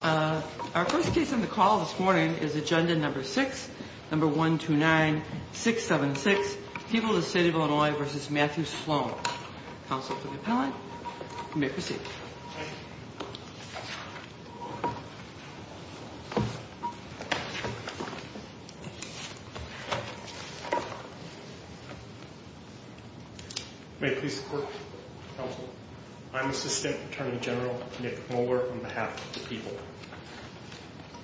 Our first case on the call this morning is Agenda No. 6, No. 129-676, People of the City of Illinois v. Matthew Sloan. Counsel for the Appellant, you may proceed. May I please support, Counsel? I'm Assistant Attorney General Nick Moeller on behalf of the people.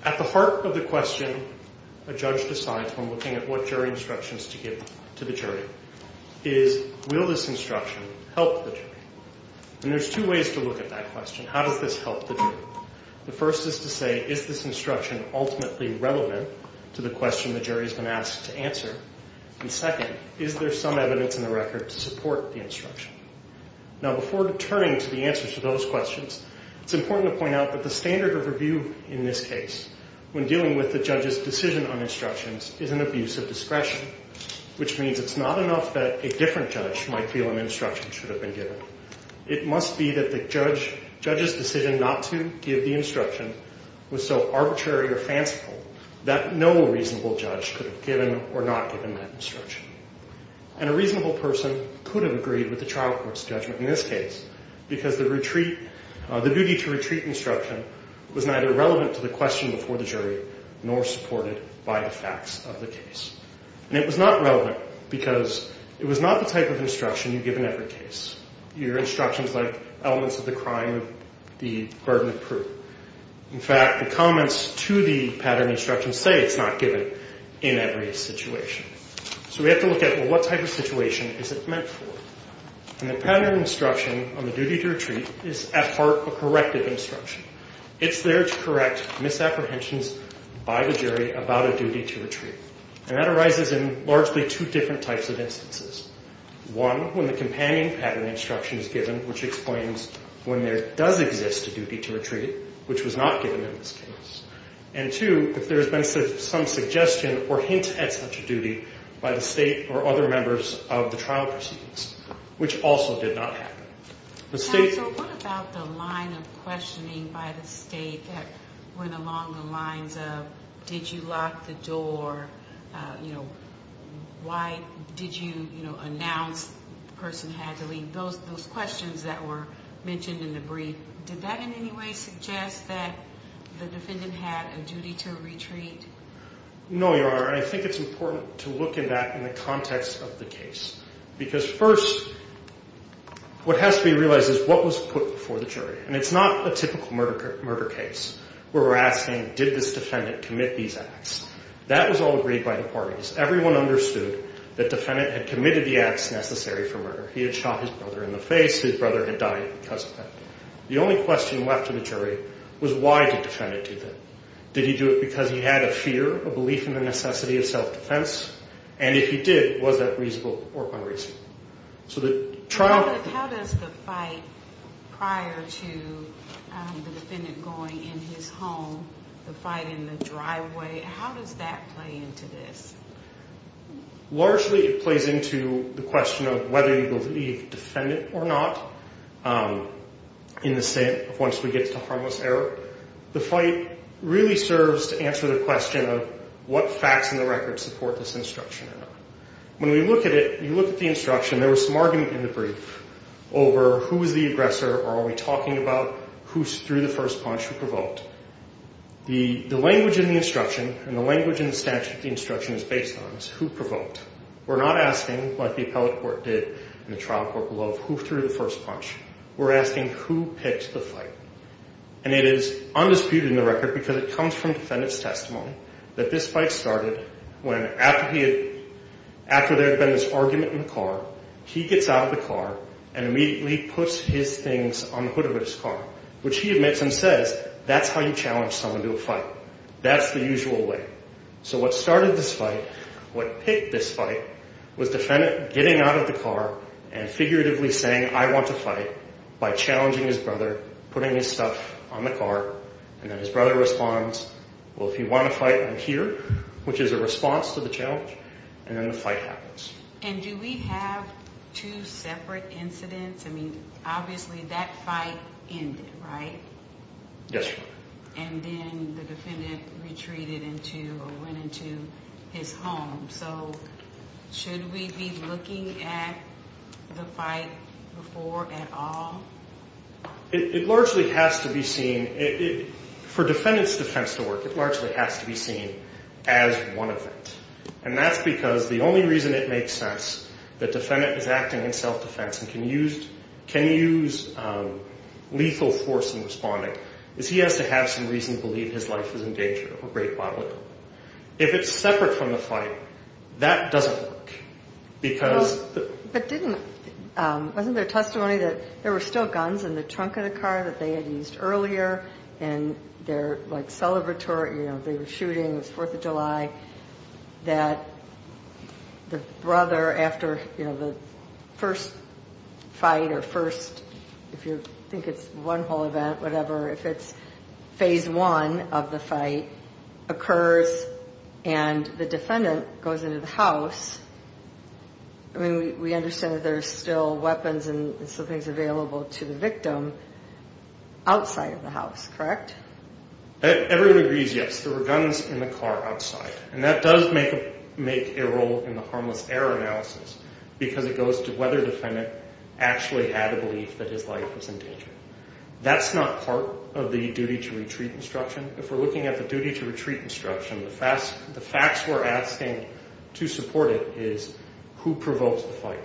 At the heart of the question a judge decides when looking at what jury instructions to give to the jury is, will this instruction help the jury? And there's two ways to look at that question. How does this help the jury? The first is to say, is this instruction ultimately relevant to the question the jury has been asked to answer? And second, is there some evidence in the record to support the instruction? Now, before turning to the answers to those questions, it's important to point out that the standard of review in this case, when dealing with the judge's decision on instructions, is an abuse of discretion, which means it's not enough that a different judge might feel an instruction should have been given. It must be that the judge's decision not to give the instruction was so arbitrary or fanciful that no reasonable judge could have given or not given that instruction. And a reasonable person could have agreed with the trial court's judgment in this case because the duty to retreat instruction was neither relevant to the question before the jury nor supported by the facts of the case. And it was not relevant because it was not the type of instruction you give in every case. Your instructions like elements of the crime, the burden of proof. In fact, the comments to the pattern instruction say it's not given in every situation. So we have to look at, well, what type of situation is it meant for? And the pattern instruction on the duty to retreat is at heart a corrective instruction. It's there to correct misapprehensions by the jury about a duty to retreat. And that arises in largely two different types of instances. One, when the companion pattern instruction is given, which explains when there does exist a duty to retreat, which was not given in this case. And two, if there has been some suggestion or hint at such a duty by the State or other members of the trial proceedings, which also did not happen. The State... Counsel, what about the line of questioning by the State that went along the lines of, did you lock the door? You know, why did you, you know, announce the person had to leave? Those questions that were mentioned in the brief, did that in any way suggest that the defendant had a duty to retreat? No, Your Honor, and I think it's important to look at that in the context of the case. Because first, what has to be realized is what was put before the jury. And it's not a typical murder case where we're asking, did this defendant commit these acts? That was all agreed by the parties. Everyone understood the defendant had committed the acts necessary for murder. He had shot his brother in the face. His brother had died because of that. The only question left to the jury was why did the defendant do that? Did he do it because he had a fear, a belief in the necessity of self-defense? And if he did, was that reasonable or unreasonable? So the trial... How does the fight prior to the defendant going in his home, the fight in the driveway, how does that play into this? Largely it plays into the question of whether you believe the defendant or not in the sense of once we get to harmless error. The fight really serves to answer the question of what facts in the record support this instruction. When we look at it, you look at the instruction, there was some argument in the brief over who was the aggressor or are we talking about who threw the first punch, who provoked. The language in the instruction and the language in the statute the instruction is based on is who provoked. We're not asking like the appellate court did in the trial court below of who threw the first punch. We're asking who picked the fight. And it is undisputed in the record because it comes from defendant's testimony that this fight started when after there had been this argument in the car, he gets out of the car and immediately puts his things on the hood of his car, which he admits and says that's how you challenge someone to a fight. That's the usual way. So what started this fight, what picked this fight was defendant getting out of the car and figuratively saying I want to fight by challenging his brother, putting his stuff on the car. And then his brother responds, well, if you want to fight, I'm here, which is a response to the challenge. And then the fight happens. And do we have two separate incidents? I mean, obviously that fight ended, right? Yes, Your Honor. And then the defendant retreated into or went into his home. So should we be looking at the fight before at all? It largely has to be seen for defendant's defense to work. It largely has to be seen as one event. And that's because the only reason it makes sense that defendant is acting in self-defense and can use lethal force in responding is he has to have some reason to believe his life is in danger of a great bodily harm. If it's separate from the fight, that doesn't work. But wasn't there testimony that there were still guns in the trunk of the car that they had used earlier and they're like celebratory, you know, they were shooting, it was Fourth of July, that the brother after, you know, the first fight or first, if you think it's one whole event, whatever, if it's phase one of the fight occurs and the defendant goes into the house, I mean, we understand that there's still weapons and some things available to the victim outside of the house, correct? Everyone agrees yes, there were guns in the car outside. And that does make a role in the harmless error analysis because it goes to whether the defendant actually had a belief that his life was in danger. That's not part of the duty to retreat instruction. If we're looking at the duty to retreat instruction, the facts we're asking to support it is who provokes the fight,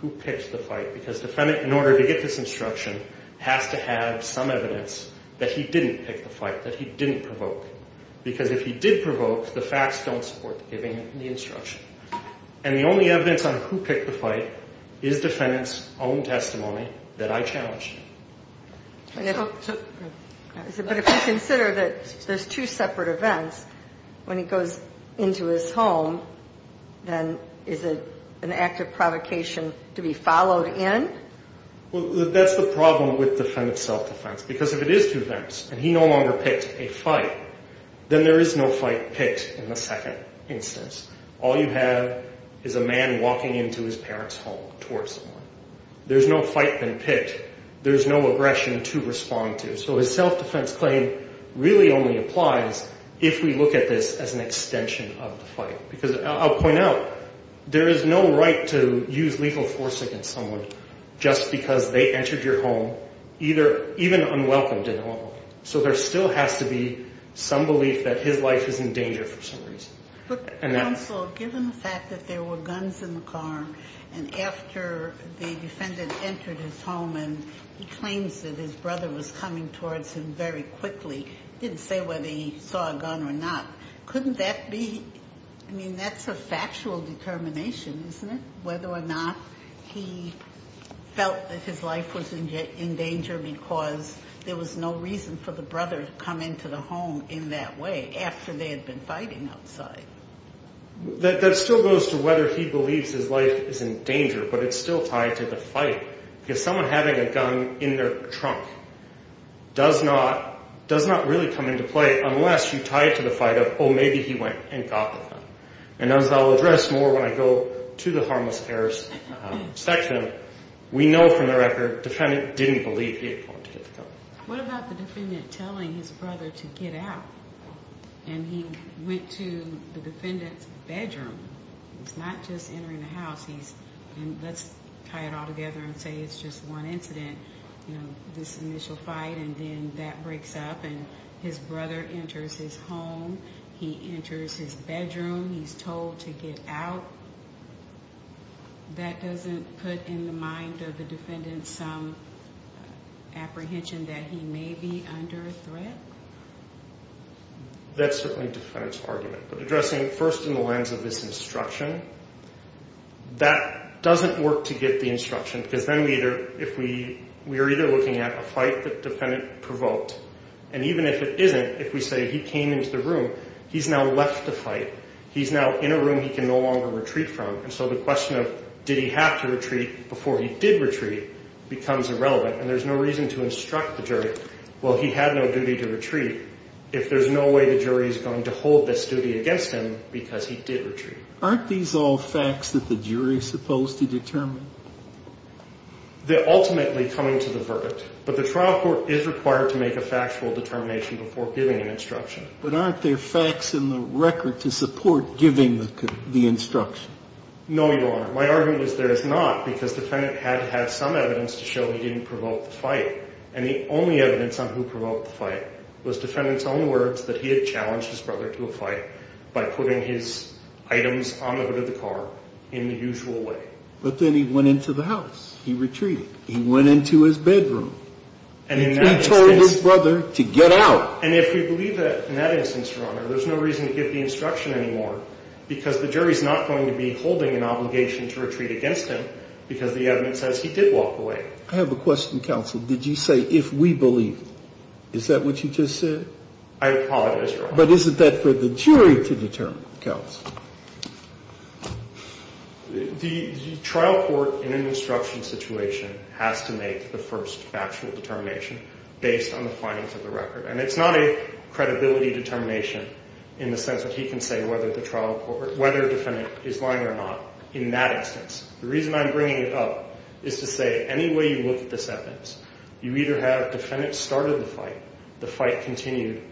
who picks the fight, because the defendant, in order to get this instruction, has to have some evidence that he didn't pick the fight, that he didn't provoke. Because if he did provoke, the facts don't support giving the instruction. And the only evidence on who picked the fight is defendant's own testimony that I challenged. But if you consider that there's two separate events, when he goes into his home, then is it an act of provocation to be followed in? Well, that's the problem with self-defense. Because if it is two events and he no longer picked a fight, then there is no fight picked in the second instance. All you have is a man walking into his parent's home towards someone. There's no fight been picked. There's no aggression to respond to. So his self-defense claim really only applies if we look at this as an extension of the fight. Because I'll point out, there is no right to use legal force against someone just because they entered your home, even unwelcomed in a home. So there still has to be some belief that his life is in danger for some reason. Counsel, given the fact that there were guns in the car and after the defendant entered his home and he claims that his brother was coming towards him very quickly, didn't say whether he saw a gun or not, couldn't that be, I mean, that's a factual determination, isn't it? Whether or not he felt that his life was in danger because there was no reason for the brother to come into the home in that way after they had been fighting outside. That still goes to whether he believes his life is in danger, but it's still tied to the fight. Because someone having a gun in their trunk does not really come into play unless you tie it to the fight of, oh, maybe he went and got the gun. And as I'll address more when I go to the harmless errors section, we know from the record the defendant didn't believe he had gone to get the gun. What about the defendant telling his brother to get out? And he went to the defendant's bedroom. It's not just entering the house. Let's tie it all together and say it's just one incident, this initial fight, and then that breaks up and his brother enters his home, he enters his bedroom, he's told to get out. That doesn't put in the mind of the defendant some apprehension that he may be under threat? That's certainly the defendant's argument. But addressing first in the lens of this instruction, that doesn't work to get the instruction because then we are either looking at a fight the defendant provoked. And even if it isn't, if we say he came into the room, he's now left the fight. He's now in a room he can no longer retreat from. And so the question of did he have to retreat before he did retreat becomes irrelevant. And there's no reason to instruct the jury, well, he had no duty to retreat, if there's no way the jury is going to hold this duty against him because he did retreat. Aren't these all facts that the jury is supposed to determine? They're ultimately coming to the verdict. But the trial court is required to make a factual determination before giving an instruction. But aren't there facts in the record to support giving the instruction? No, Your Honor. My argument is there is not because the defendant had to have some evidence to show he didn't provoke the fight. And the only evidence on who provoked the fight was the defendant's own words that he had challenged his brother to a fight by putting his items on the hood of the car in the usual way. But then he went into the house. He retreated. He went into his bedroom. He told his brother to get out. And if we believe that in that instance, Your Honor, there's no reason to give the instruction anymore because the jury is not going to be holding an obligation to retreat against him because the evidence says he did walk away. I have a question, counsel. Did you say if we believe? Is that what you just said? I apologize, Your Honor. But isn't that for the jury to determine, counsel? The trial court in an instruction situation has to make the first factual determination based on the findings of the record. And it's not a credibility determination in the sense that he can say whether the trial court or whether the defendant is lying or not in that instance. The reason I'm bringing it up is to say any way you look at this evidence, you either have the defendant started the fight, the fight continued,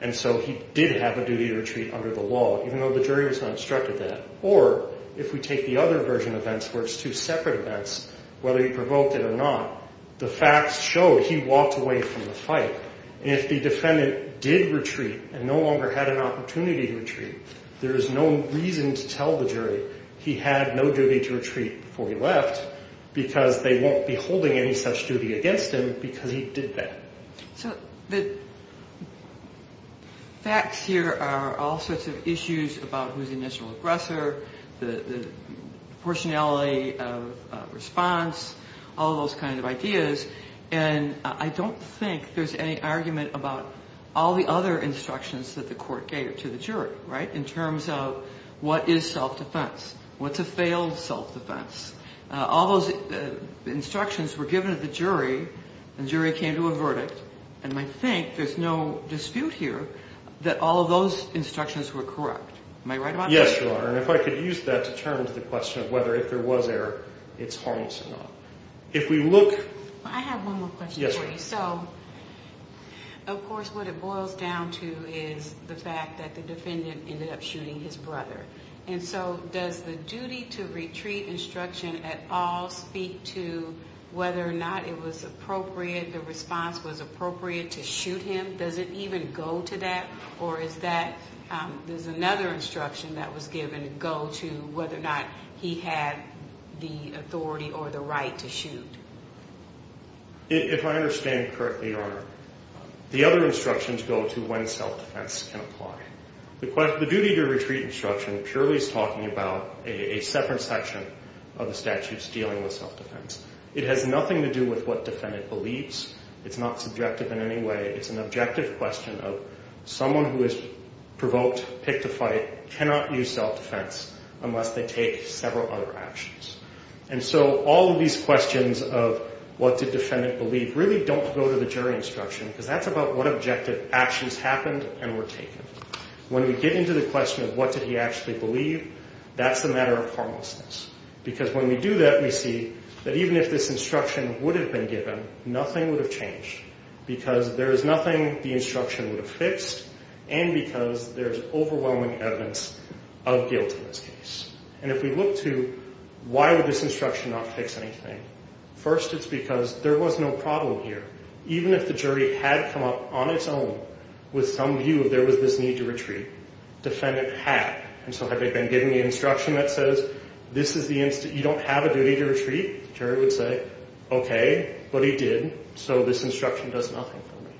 and so he did have a duty to retreat under the law even though the jury has not instructed that, or if we take the other version of events where it's two separate events, whether he provoked it or not, the facts show he walked away from the fight. And if the defendant did retreat and no longer had an opportunity to retreat, there is no reason to tell the jury he had no duty to retreat before he left because they won't be holding any such duty against him because he did that. So the facts here are all sorts of issues about who's the initial aggressor, the proportionality of response, all those kinds of ideas, and I don't think there's any argument about all the other instructions that the court gave to the jury, right, in terms of what is self-defense, what's a failed self-defense. All those instructions were given to the jury, and the jury came to a verdict, and I think there's no dispute here that all of those instructions were correct. Am I right about that? Yes, Your Honor, and if I could use that to turn to the question of whether if there was error, it's harmless or not. If we look— I have one more question for you. Yes, ma'am. So, of course, what it boils down to is the fact that the defendant ended up shooting his brother. And so does the duty to retreat instruction at all speak to whether or not it was appropriate, the response was appropriate to shoot him? Does it even go to that, or is that— does another instruction that was given go to whether or not he had the authority or the right to shoot? If I understand correctly, Your Honor, the other instructions go to when self-defense can apply. The duty to retreat instruction purely is talking about a separate section of the statutes dealing with self-defense. It has nothing to do with what defendant believes. It's not subjective in any way. It's an objective question of someone who is provoked, picked a fight, cannot use self-defense unless they take several other actions. And so all of these questions of what did defendant believe really don't go to the jury instruction because that's about what objective actions happened and were taken. When we get into the question of what did he actually believe, that's a matter of harmlessness because when we do that, we see that even if this instruction would have been given, nothing would have changed because there is nothing the instruction would have fixed and because there's overwhelming evidence of guilt in this case. And if we look to why would this instruction not fix anything, first, it's because there was no problem here. Even if the jury had come up on its own with some view of there was this need to retreat, defendant had. And so had they been given the instruction that says this is the—you don't have a duty to retreat, jury would say, okay, but he did, so this instruction does nothing for me.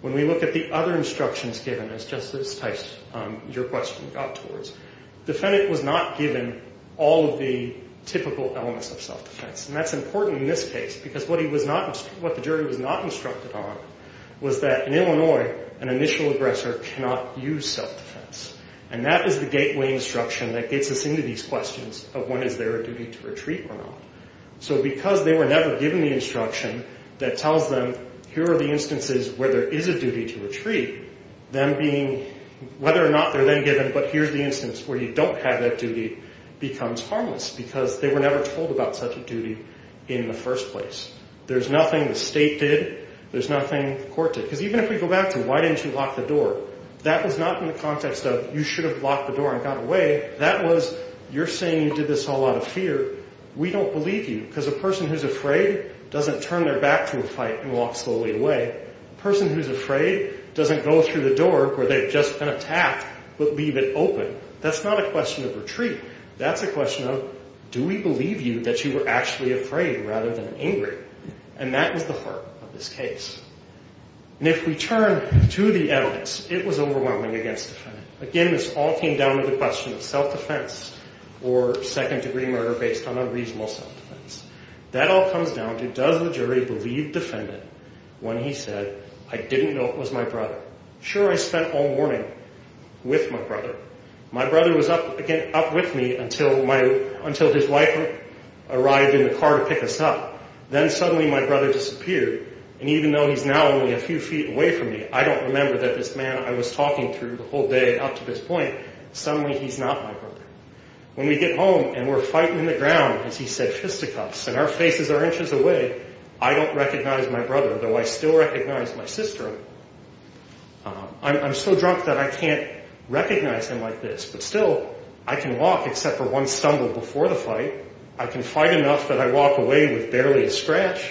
When we look at the other instructions given as Justice Tice, your question, got towards, defendant was not given all of the typical elements of self-defense. And that's important in this case because what he was not—what the jury was not instructed on was that in Illinois, an initial aggressor cannot use self-defense. And that is the gateway instruction that gets us into these questions of when is there a duty to retreat or not. So because they were never given the instruction that tells them here are the instances where there is a duty to retreat, them being—whether or not they're then given, but here's the instance where you don't have that duty, becomes harmless because they were never told about such a duty in the first place. There's nothing the state did. There's nothing the court did. Because even if we go back to why didn't you lock the door, that was not in the context of you should have locked the door and got away. That was you're saying you did this all out of fear. We don't believe you because a person who's afraid doesn't turn their back to a fight and walk slowly away. A person who's afraid doesn't go through the door where they've just been attacked but leave it open. That's not a question of retreat. That's a question of do we believe you that you were actually afraid rather than angry. And that was the heart of this case. And if we turn to the evidence, it was overwhelming against the defendant. Again, this all came down to the question of self-defense or second-degree murder based on unreasonable self-defense. That all comes down to does the jury believe defendant when he said, I didn't know it was my brother. Sure, I spent all morning with my brother. My brother was up with me until his wife arrived in the car to pick us up. Then suddenly my brother disappeared. And even though he's now only a few feet away from me, I don't remember that this man I was talking through the whole day up to this point. Suddenly he's not my brother. When we get home and we're fighting in the ground, as he said, fisticuffs, and our faces are inches away, I don't recognize my brother, though I still recognize my sister. I'm so drunk that I can't recognize him like this, but still I can walk except for one stumble before the fight. I can fight enough that I walk away with barely a scratch.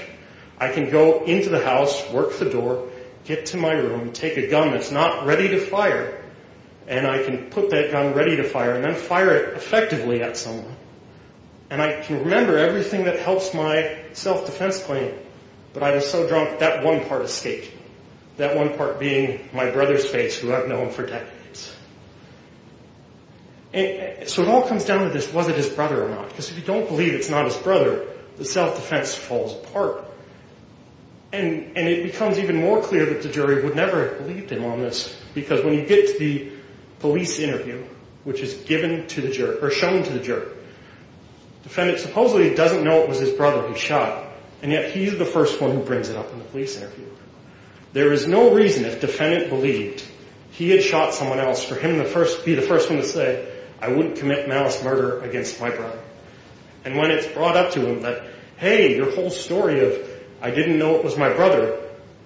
I can go into the house, work the door, get to my room, take a gun that's not ready to fire, and I can put that gun ready to fire and then fire it effectively at someone. And I can remember everything that helps my self-defense claim, but I am so drunk that one part escaped me, that one part being my brother's face who I've known for decades. So it all comes down to this, was it his brother or not? Because if you don't believe it's not his brother, the self-defense falls apart. And it becomes even more clear that the jury would never have believed him on this because when you get to the police interview, which is given to the jury, or shown to the jury, the defendant supposedly doesn't know it was his brother who shot, and yet he's the first one who brings it up in the police interview. There is no reason if defendant believed he had shot someone else for him to be the first one to say, I wouldn't commit malice murder against my brother. And when it's brought up to him that, hey, your whole story of I didn't know it was my brother,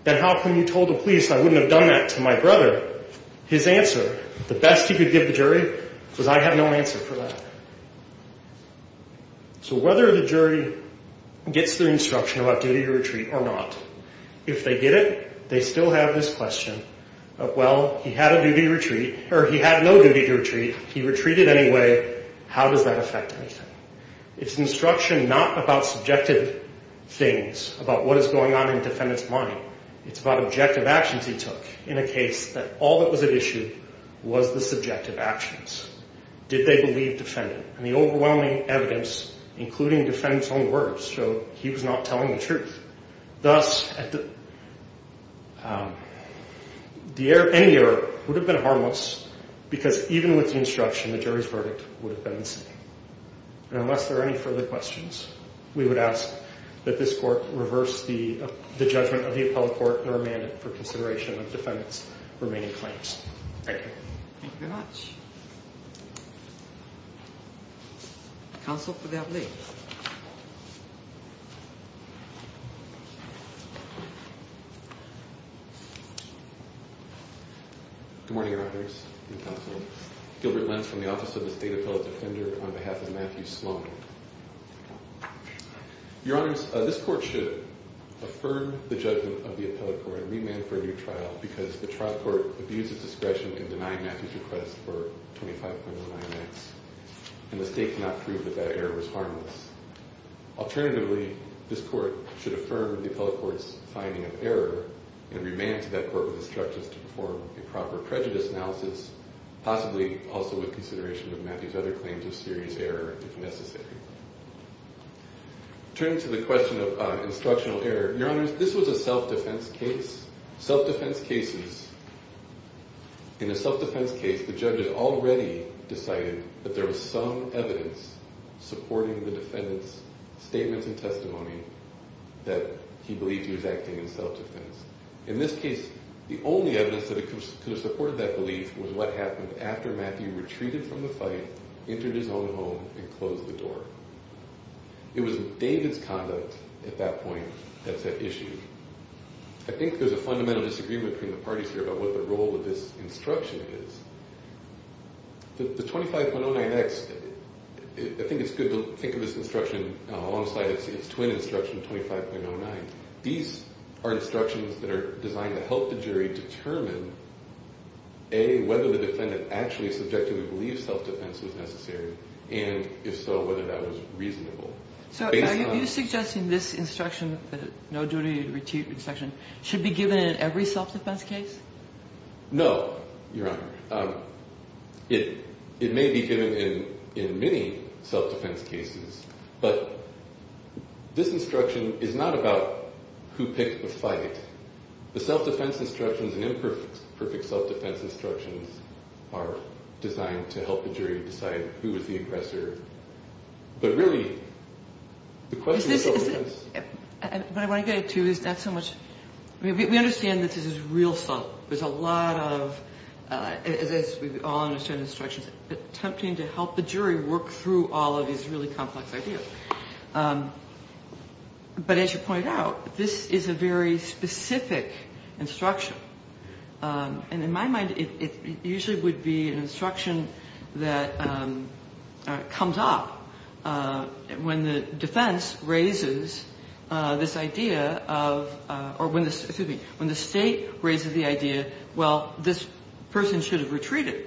then how come you told the police I wouldn't have done that to my brother? His answer, the best he could give the jury, was I have no answer for that. So whether the jury gets their instruction about duty to retreat or not, if they get it, they still have this question of, well, he had a duty to retreat, or he had no duty to retreat, he retreated anyway, how does that affect anything? It's instruction not about subjective things, about what is going on in defendant's mind. It's about objective actions he took in a case that all that was at issue was the subjective actions. Did they believe defendant? And the overwhelming evidence, including defendant's own words, showed he was not telling the truth. Thus, any error would have been harmless because even with the instruction, the jury's verdict would have been the same. And unless there are any further questions, we would ask that this court reverse the judgment of the appellate court and remand it for consideration of defendant's remaining claims. Thank you. Thank you very much. Counsel for the appellate. Good morning, Your Honors and Counsel. Gilbert Lentz from the Office of the State Appellate Defender on behalf of Matthew Sloan. Your Honors, this court should affirm the judgment of the appellate court because the trial court abused its discretion in denying Matthew's request for 25.09X and the state could not prove that that error was harmless. Alternatively, this court should affirm the appellate court's finding of error and remand to that court with instructions to perform a proper prejudice analysis, possibly also with consideration of Matthew's other claims of serious error if necessary. Turning to the question of instructional error, Your Honors, this was a self-defense case. Self-defense cases, in a self-defense case, the judge had already decided that there was some evidence supporting the defendant's statements and testimony that he believed he was acting in self-defense. In this case, the only evidence that could have supported that belief was what happened after Matthew retreated from the fight, entered his own home, and closed the door. It was David's conduct at that point that set issue. I think there's a fundamental disagreement between the parties here about what the role of this instruction is. The 25.09X, I think it's good to think of this instruction alongside its twin instruction, 25.09. These are instructions that are designed to help the jury determine whether the defendant actually subjectively believes self-defense was necessary and, if so, whether that was reasonable. So are you suggesting this instruction, the no duty retreat instruction, should be given in every self-defense case? No, Your Honor. It may be given in many self-defense cases, but this instruction is not about who picked the fight. The self-defense instructions and imperfect self-defense instructions are designed to help the jury decide who is the aggressor. But really, the question is self-defense. What I want to get at, too, is not so much – we understand that this is real stuff. There's a lot of, as we all understand the instructions, attempting to help the jury work through all of these really complex ideas. But as you point out, this is a very specific instruction. And in my mind, it usually would be an instruction that comes up when the defense raises this idea of – or when the – excuse me – when the State raises the idea, well, this person should have retreated.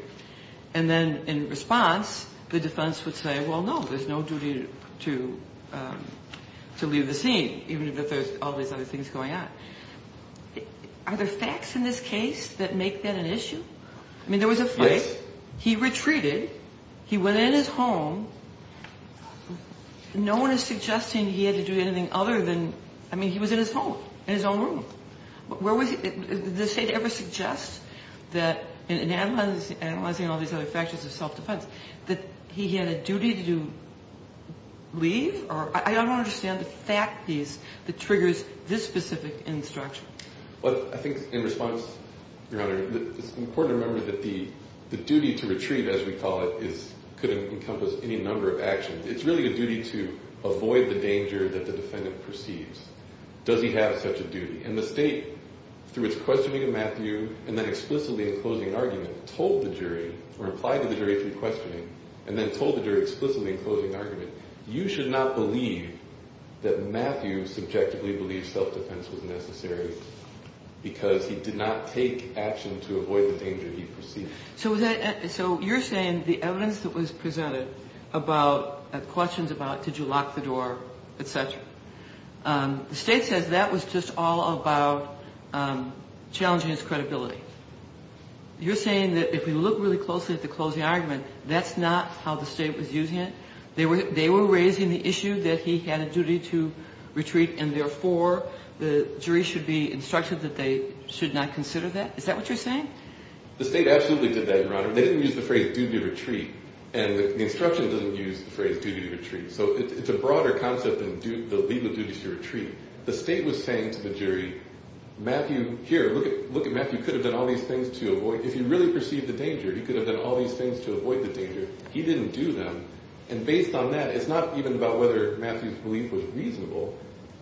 And then in response, the defense would say, well, no, there's no duty to leave the scene, even if there's all these other things going on. Are there facts in this case that make that an issue? I mean, there was a fight. Yes. He retreated. He went in his home. No one is suggesting he had to do anything other than – I mean, he was in his home, in his own room. Where was – did the State ever suggest that in analyzing all these other factors of self-defense that he had a duty to leave? I don't understand the fact piece that triggers this specific instruction. Well, I think in response, Your Honor, it's important to remember that the duty to retreat, as we call it, is – could encompass any number of actions. It's really a duty to avoid the danger that the defendant perceives. Does he have such a duty? And the State, through its questioning of Matthew and then explicitly in closing argument, told the jury or applied to the jury through questioning and then told the jury explicitly in closing argument, you should not believe that Matthew subjectively believes self-defense was necessary because he did not take action to avoid the danger he perceived. So you're saying the evidence that was presented about questions about did you lock the door, et cetera, the State says that was just all about challenging his credibility. You're saying that if we look really closely at the closing argument, that's not how the State was using it? They were raising the issue that he had a duty to retreat and therefore the jury should be instructed that they should not consider that? Is that what you're saying? The State absolutely did that, Your Honor. They didn't use the phrase duty to retreat. And the instruction doesn't use the phrase duty to retreat. So it's a broader concept than the legal duty to retreat. The State was saying to the jury, Matthew, here, look at Matthew. He could have done all these things to avoid – if he really perceived the danger, he could have done all these things to avoid the danger. He didn't do them. And based on that, it's not even about whether Matthew's belief was reasonable.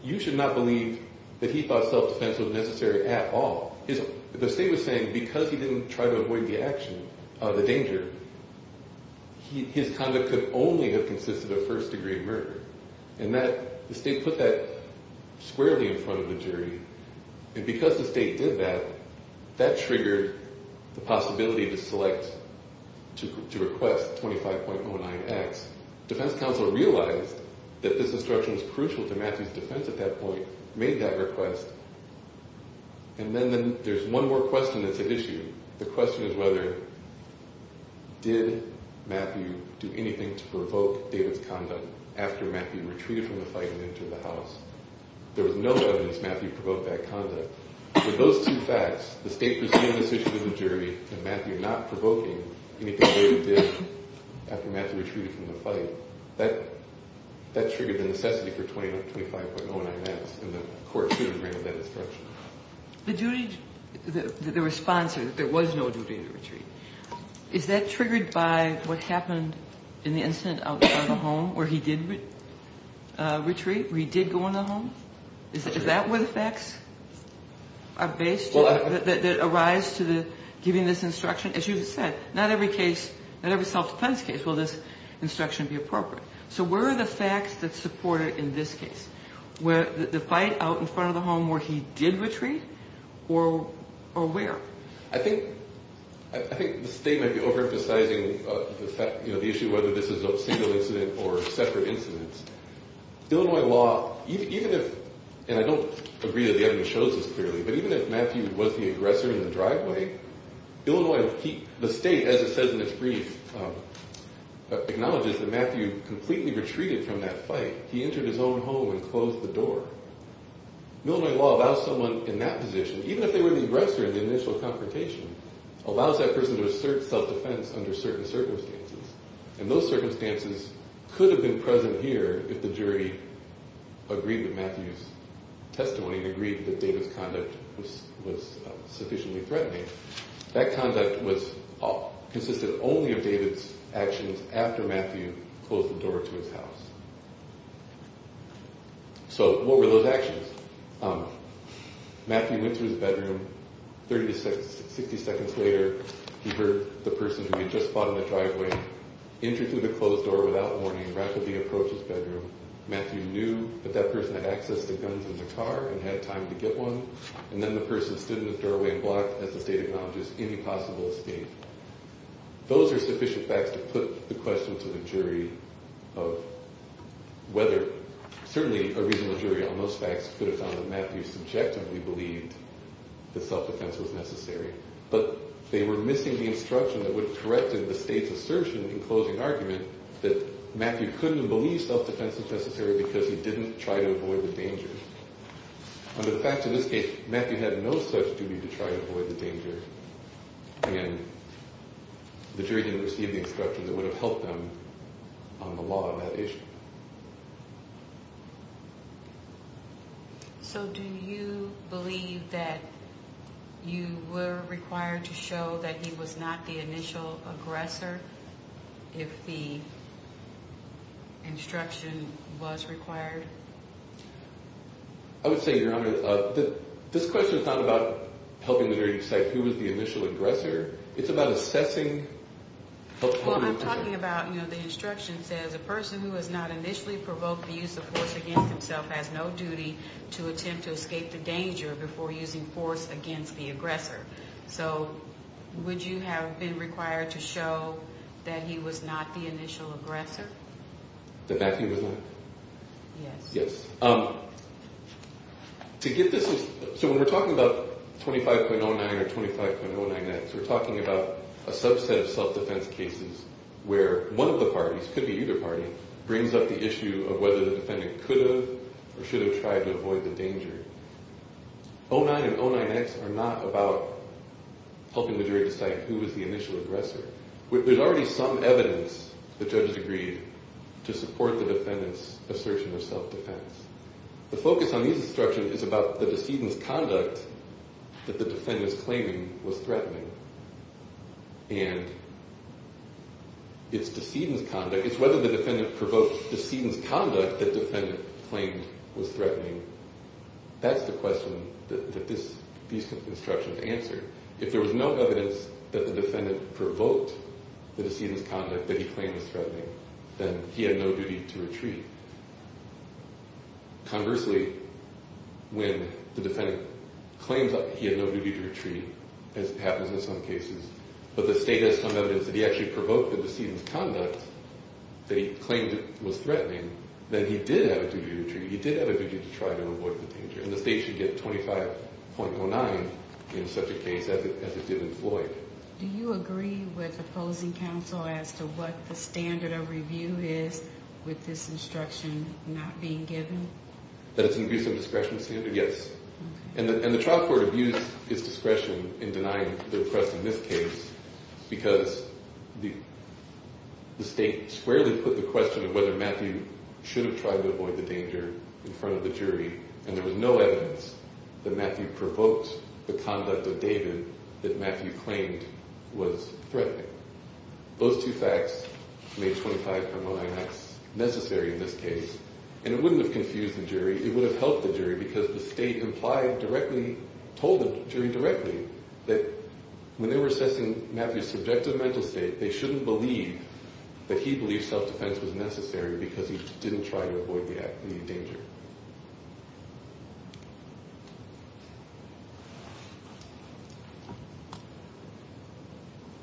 You should not believe that he thought self-defense was necessary at all. The State was saying because he didn't try to avoid the danger, his conduct could only have consisted of first-degree murder. And the State put that squarely in front of the jury. And because the State did that, that triggered the possibility to select to request 25.09X. Defense counsel realized that this instruction was crucial to Matthew's defense at that point, made that request, and then there's one more question that's at issue. The question is whether did Matthew do anything to provoke David's conduct after Matthew retreated from the fight and entered the house. There was no evidence Matthew provoked that conduct. With those two facts, the State pursuing this issue to the jury and Matthew not provoking anything David did after Matthew retreated from the fight, that triggered the necessity for 25.09X, and the court should have granted that instruction. The duty – the response is that there was no duty to retreat. Is that triggered by what happened in the incident outside of the home where he did retreat, where he did go in the home? Is that where the facts are based that arise to giving this instruction? As you said, not every case, not every self-defense case will this instruction be appropriate. So where are the facts that support it in this case? The fight out in front of the home where he did retreat or where? I think the State might be overemphasizing the issue of whether this is a single incident or separate incidents. Illinois law, even if – and I don't agree that the evidence shows this clearly – but even if Matthew was the aggressor in the driveway, Illinois – the State, as it says in its brief, acknowledges that Matthew completely retreated from that fight. He entered his own home and closed the door. Illinois law allows someone in that position, even if they were the aggressor in the initial confrontation, allows that person to assert self-defense under certain circumstances. And those circumstances could have been present here if the jury agreed with Matthew's testimony and agreed that David's conduct was sufficiently threatening. That conduct consisted only of David's actions after Matthew closed the door to his house. So what were those actions? Matthew went to his bedroom. Thirty to sixty seconds later, he heard the person who had just fought in the driveway enter through the closed door without warning, rapidly approach his bedroom. Matthew knew that that person had access to guns in the car and had time to get one, and then the person stood in the doorway and blocked, as the State acknowledges, any possible escape. Those are sufficient facts to put the question to the jury of whether – that self-defense was necessary. But they were missing the instruction that would correct the State's assertion in closing argument that Matthew couldn't believe self-defense was necessary because he didn't try to avoid the danger. Under the facts of this case, Matthew had no such duty to try to avoid the danger, and the jury didn't receive the instruction that would have helped them on the law on that issue. So do you believe that you were required to show that he was not the initial aggressor if the instruction was required? I would say, Your Honor, this question is not about helping the jury decide who was the initial aggressor. It's about assessing – Well, I'm talking about, you know, the instruction says, a person who has not initially provoked the use of force against himself has no duty to attempt to escape the danger before using force against the aggressor. So would you have been required to show that he was not the initial aggressor? That Matthew was not? Yes. Yes. To get this – so when we're talking about 25.09 or 25.099, we're talking about a subset of self-defense cases where one of the parties, could be either party, brings up the issue of whether the defendant could have or should have tried to avoid the danger. 0.9 and 0.9X are not about helping the jury decide who was the initial aggressor. There's already some evidence that judges agreed to support the defendant's assertion of self-defense. The focus on these instructions is about the decedent's conduct that the defendant's claiming was threatening. And it's whether the defendant provoked the decedent's conduct that the defendant claimed was threatening. That's the question that these instructions answer. If there was no evidence that the defendant provoked the decedent's conduct that he claimed was threatening, then he had no duty to retreat. Conversely, when the defendant claims he had no duty to retreat, as happens in some cases, but the state has some evidence that he actually provoked the decedent's conduct that he claimed was threatening, then he did have a duty to retreat. He did have a duty to try to avoid the danger. And the state should get 25.09 in such a case as it did in Floyd. Do you agree with opposing counsel as to what the standard of review is with this instruction not being given? That it's an abuse of discretion standard? Yes. And the trial court abused its discretion in denying the oppressed in this case because the state squarely put the question of whether Matthew should have tried to avoid the danger in front of the jury, and there was no evidence that Matthew provoked the conduct of David that Matthew claimed was threatening. Those two facts made 25.09 necessary in this case, and it wouldn't have confused the jury. It would have helped the jury because the state implied directly, told the jury directly, that when they were assessing Matthew's subjective mental state, they shouldn't believe that he believed self-defense was necessary because he didn't try to avoid the danger.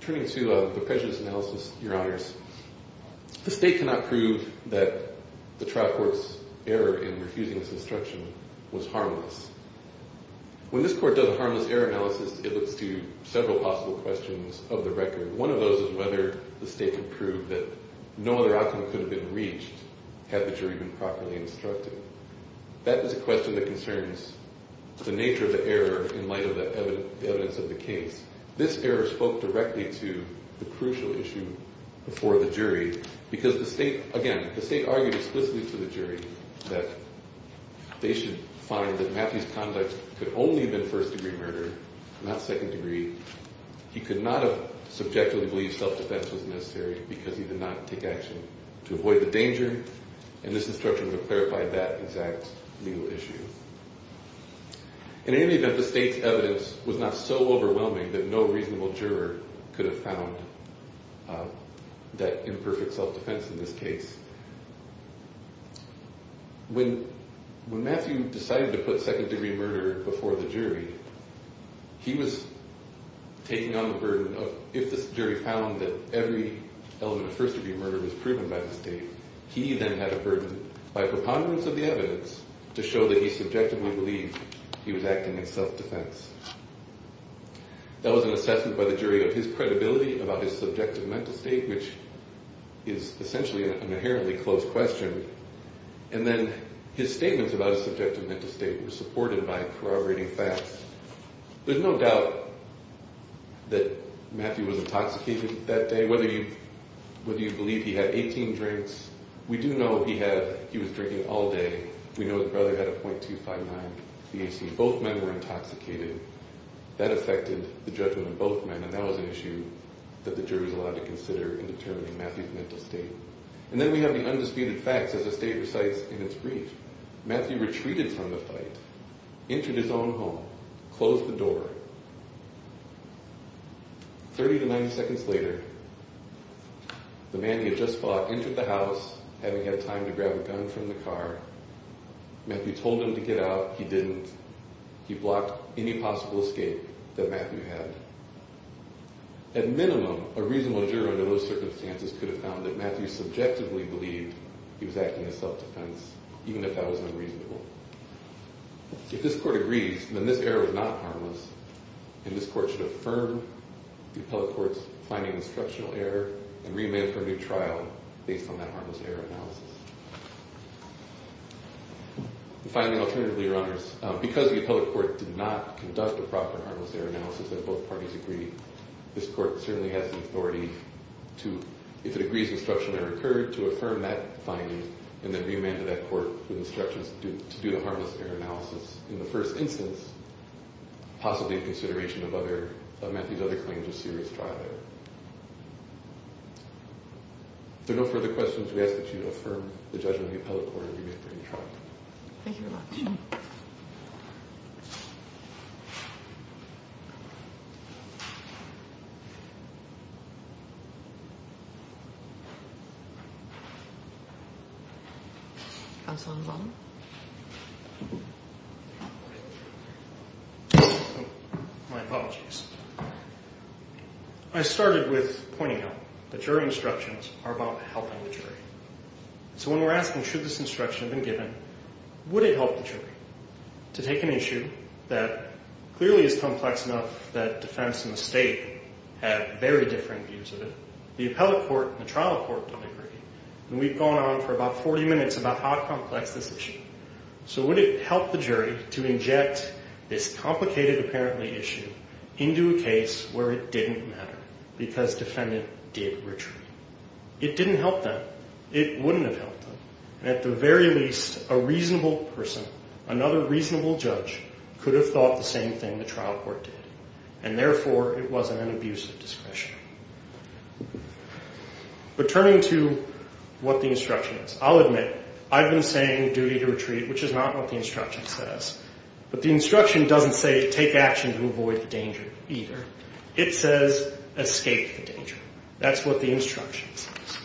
Turning to the prejudice analysis, Your Honors, the state cannot prove that the trial court's error in refusing this instruction was harmless. When this court does a harmless error analysis, it looks to several possible questions of the record. One of those is whether the state could prove that no other outcome could have been reached had the jury been properly instructed. That is a question that concerns the nature of the error in light of the evidence of the case. This error spoke directly to the crucial issue before the jury because the state, again, the state argued explicitly to the jury that they should find that Matthew's conduct could only have been first-degree murder, not second-degree. He could not have subjectively believed self-defense was necessary because he did not take action to avoid the danger, and this instruction would have clarified that exact legal issue. In any event, the state's evidence was not so overwhelming that no reasonable juror could have found that imperfect self-defense in this case. When Matthew decided to put second-degree murder before the jury, he was taking on the burden of if this jury found that every element of first-degree murder was proven by the state, he then had a burden by preponderance of the evidence to show that he subjectively believed he was acting in self-defense. That was an assessment by the jury of his credibility about his subjective mental state, which is essentially an inherently closed question, and then his statements about his subjective mental state were supported by corroborating facts. There's no doubt that Matthew was intoxicated that day. Whether you believe he had 18 drinks, we do know he was drinking all day. We know his brother had a .259 VHC. Both men were intoxicated. That affected the judgment of both men, and that was an issue that the jury was allowed to consider in determining Matthew's mental state. And then we have the undisputed facts, as the state recites in its brief. Matthew retreated from the fight, entered his own home, closed the door. 30 to 90 seconds later, the man he had just fought entered the house, having had time to grab a gun from the car. Matthew told him to get out. He didn't. He blocked any possible escape that Matthew had. At minimum, a reasonable juror under those circumstances could have found that Matthew subjectively believed he was acting in self-defense, even if that was unreasonable. If this court agrees, then this error is not harmless, and this court should affirm the appellate court's finding of instructional error and remand for a new trial based on that harmless error analysis. And finally, alternatively, Your Honors, because the appellate court did not conduct a proper harmless error analysis and both parties agreed, this court certainly has the authority to, if it agrees instructional error occurred, to affirm that finding and then remand to that court with instructions to do the harmless error analysis in the first instance, possibly in consideration of Matthew's other claims of serious trial error. If there are no further questions, we ask that you affirm the judgment of the appellate court and remand for a new trial. Thank you very much. Counsel on the bottom. My apologies. I started with pointing out that jury instructions are about helping the jury. So when we're asking should this instruction have been given, would it help the jury to take an issue that clearly is complex enough that defense and the state have very different views of it, the appellate court and the trial court don't agree, and we've gone on for about 40 minutes about how complex this issue. So would it help the jury to inject this complicated, apparently, issue into a case where it didn't matter because defendant did retreat? It didn't help them. It wouldn't have helped them. And at the very least, a reasonable person, another reasonable judge, could have thought the same thing the trial court did, and therefore it wasn't an abuse of discretion. But turning to what the instruction is, I'll admit I've been saying duty to retreat, which is not what the instruction says. But the instruction doesn't say take action to avoid the danger either. It says escape the danger. That's what the instruction says.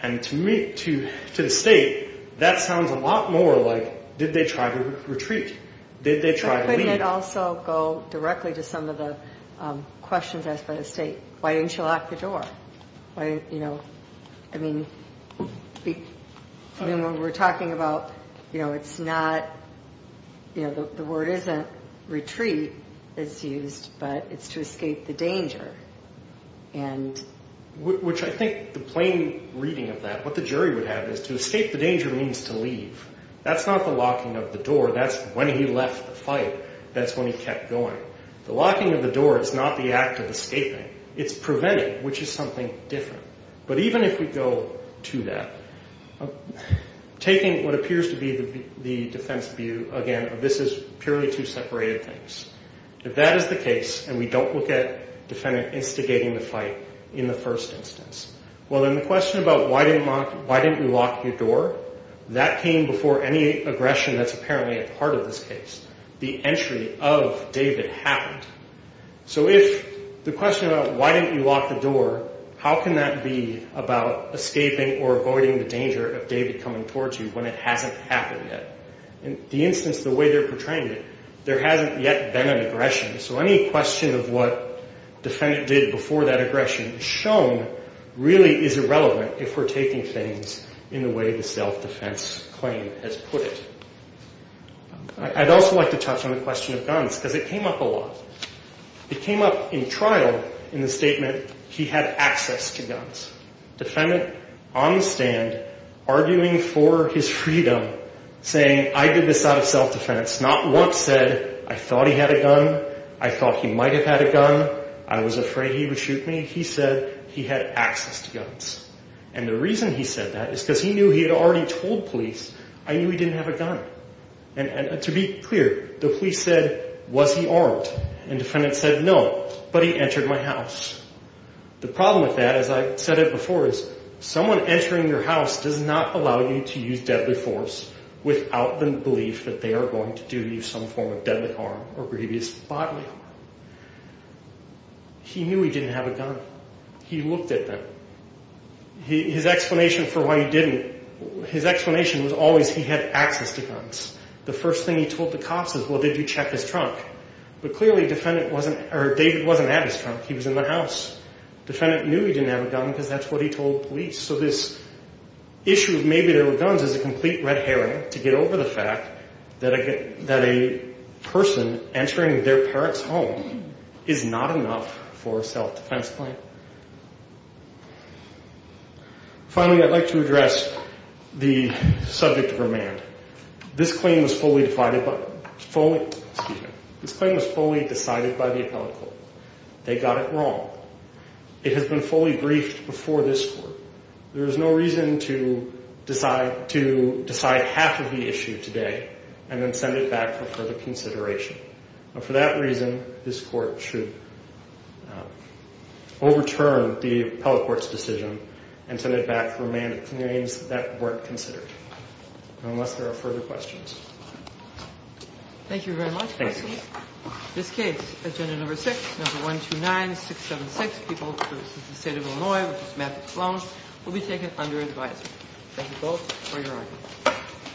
And to me, to the state, that sounds a lot more like did they try to retreat? Did they try to leave? We could also go directly to some of the questions asked by the state. Why didn't you lock the door? I mean, when we're talking about, you know, it's not, you know, the word isn't retreat that's used, but it's to escape the danger. Which I think the plain reading of that, what the jury would have is to escape the danger means to leave. That's not the locking of the door. That's when he left the fight. That's when he kept going. The locking of the door is not the act of escaping. It's preventing, which is something different. But even if we go to that, taking what appears to be the defense view, again, this is purely two separated things. If that is the case and we don't look at the defendant instigating the fight in the first instance, well, then the question about why didn't you lock your door, that came before any aggression that's apparently a part of this case. The entry of David happened. So if the question about why didn't you lock the door, how can that be about escaping or avoiding the danger of David coming towards you when it hasn't happened yet? In the instance, the way they're portraying it, there hasn't yet been an aggression. So any question of what the defendant did before that aggression is shown really is irrelevant if we're taking things in the way the self-defense claim has put it. I'd also like to touch on the question of guns because it came up a lot. It came up in trial in the statement he had access to guns. Defendant on the stand arguing for his freedom, saying, I did this out of self-defense. Not once said, I thought he had a gun. I thought he might have had a gun. I was afraid he would shoot me. He said he had access to guns. And the reason he said that is because he knew he had already told police, I knew he didn't have a gun. And to be clear, the police said, was he armed? And the defendant said, no, but he entered my house. The problem with that, as I said it before, is someone entering your house does not allow you to use deadly force without the belief that they are going to do you some form of deadly harm or grievous bodily harm. He knew he didn't have a gun. He looked at them. His explanation for why he didn't, his explanation was always he had access to guns. The first thing he told the cops is, well, did you check his trunk? But clearly, defendant wasn't, or David wasn't at his trunk. He was in the house. Defendant knew he didn't have a gun because that's what he told police. So this issue of maybe there were guns is a complete red herring to get over the fact that a person entering their parent's home is not enough for a self-defense claim. Finally, I'd like to address the subject of remand. This claim was fully decided by the appellate court. They got it wrong. It has been fully briefed before this court. There is no reason to decide half of the issue today and then send it back for further consideration. For that reason, this court should overturn the appellate court's decision and send it back for remand claims that weren't considered. Unless there are further questions. Thank you very much. Thank you. This case, agenda number six, number 129676, people versus the state of Illinois, which is Matthew Sloan, will be taken under advisory. Thank you both for your argument.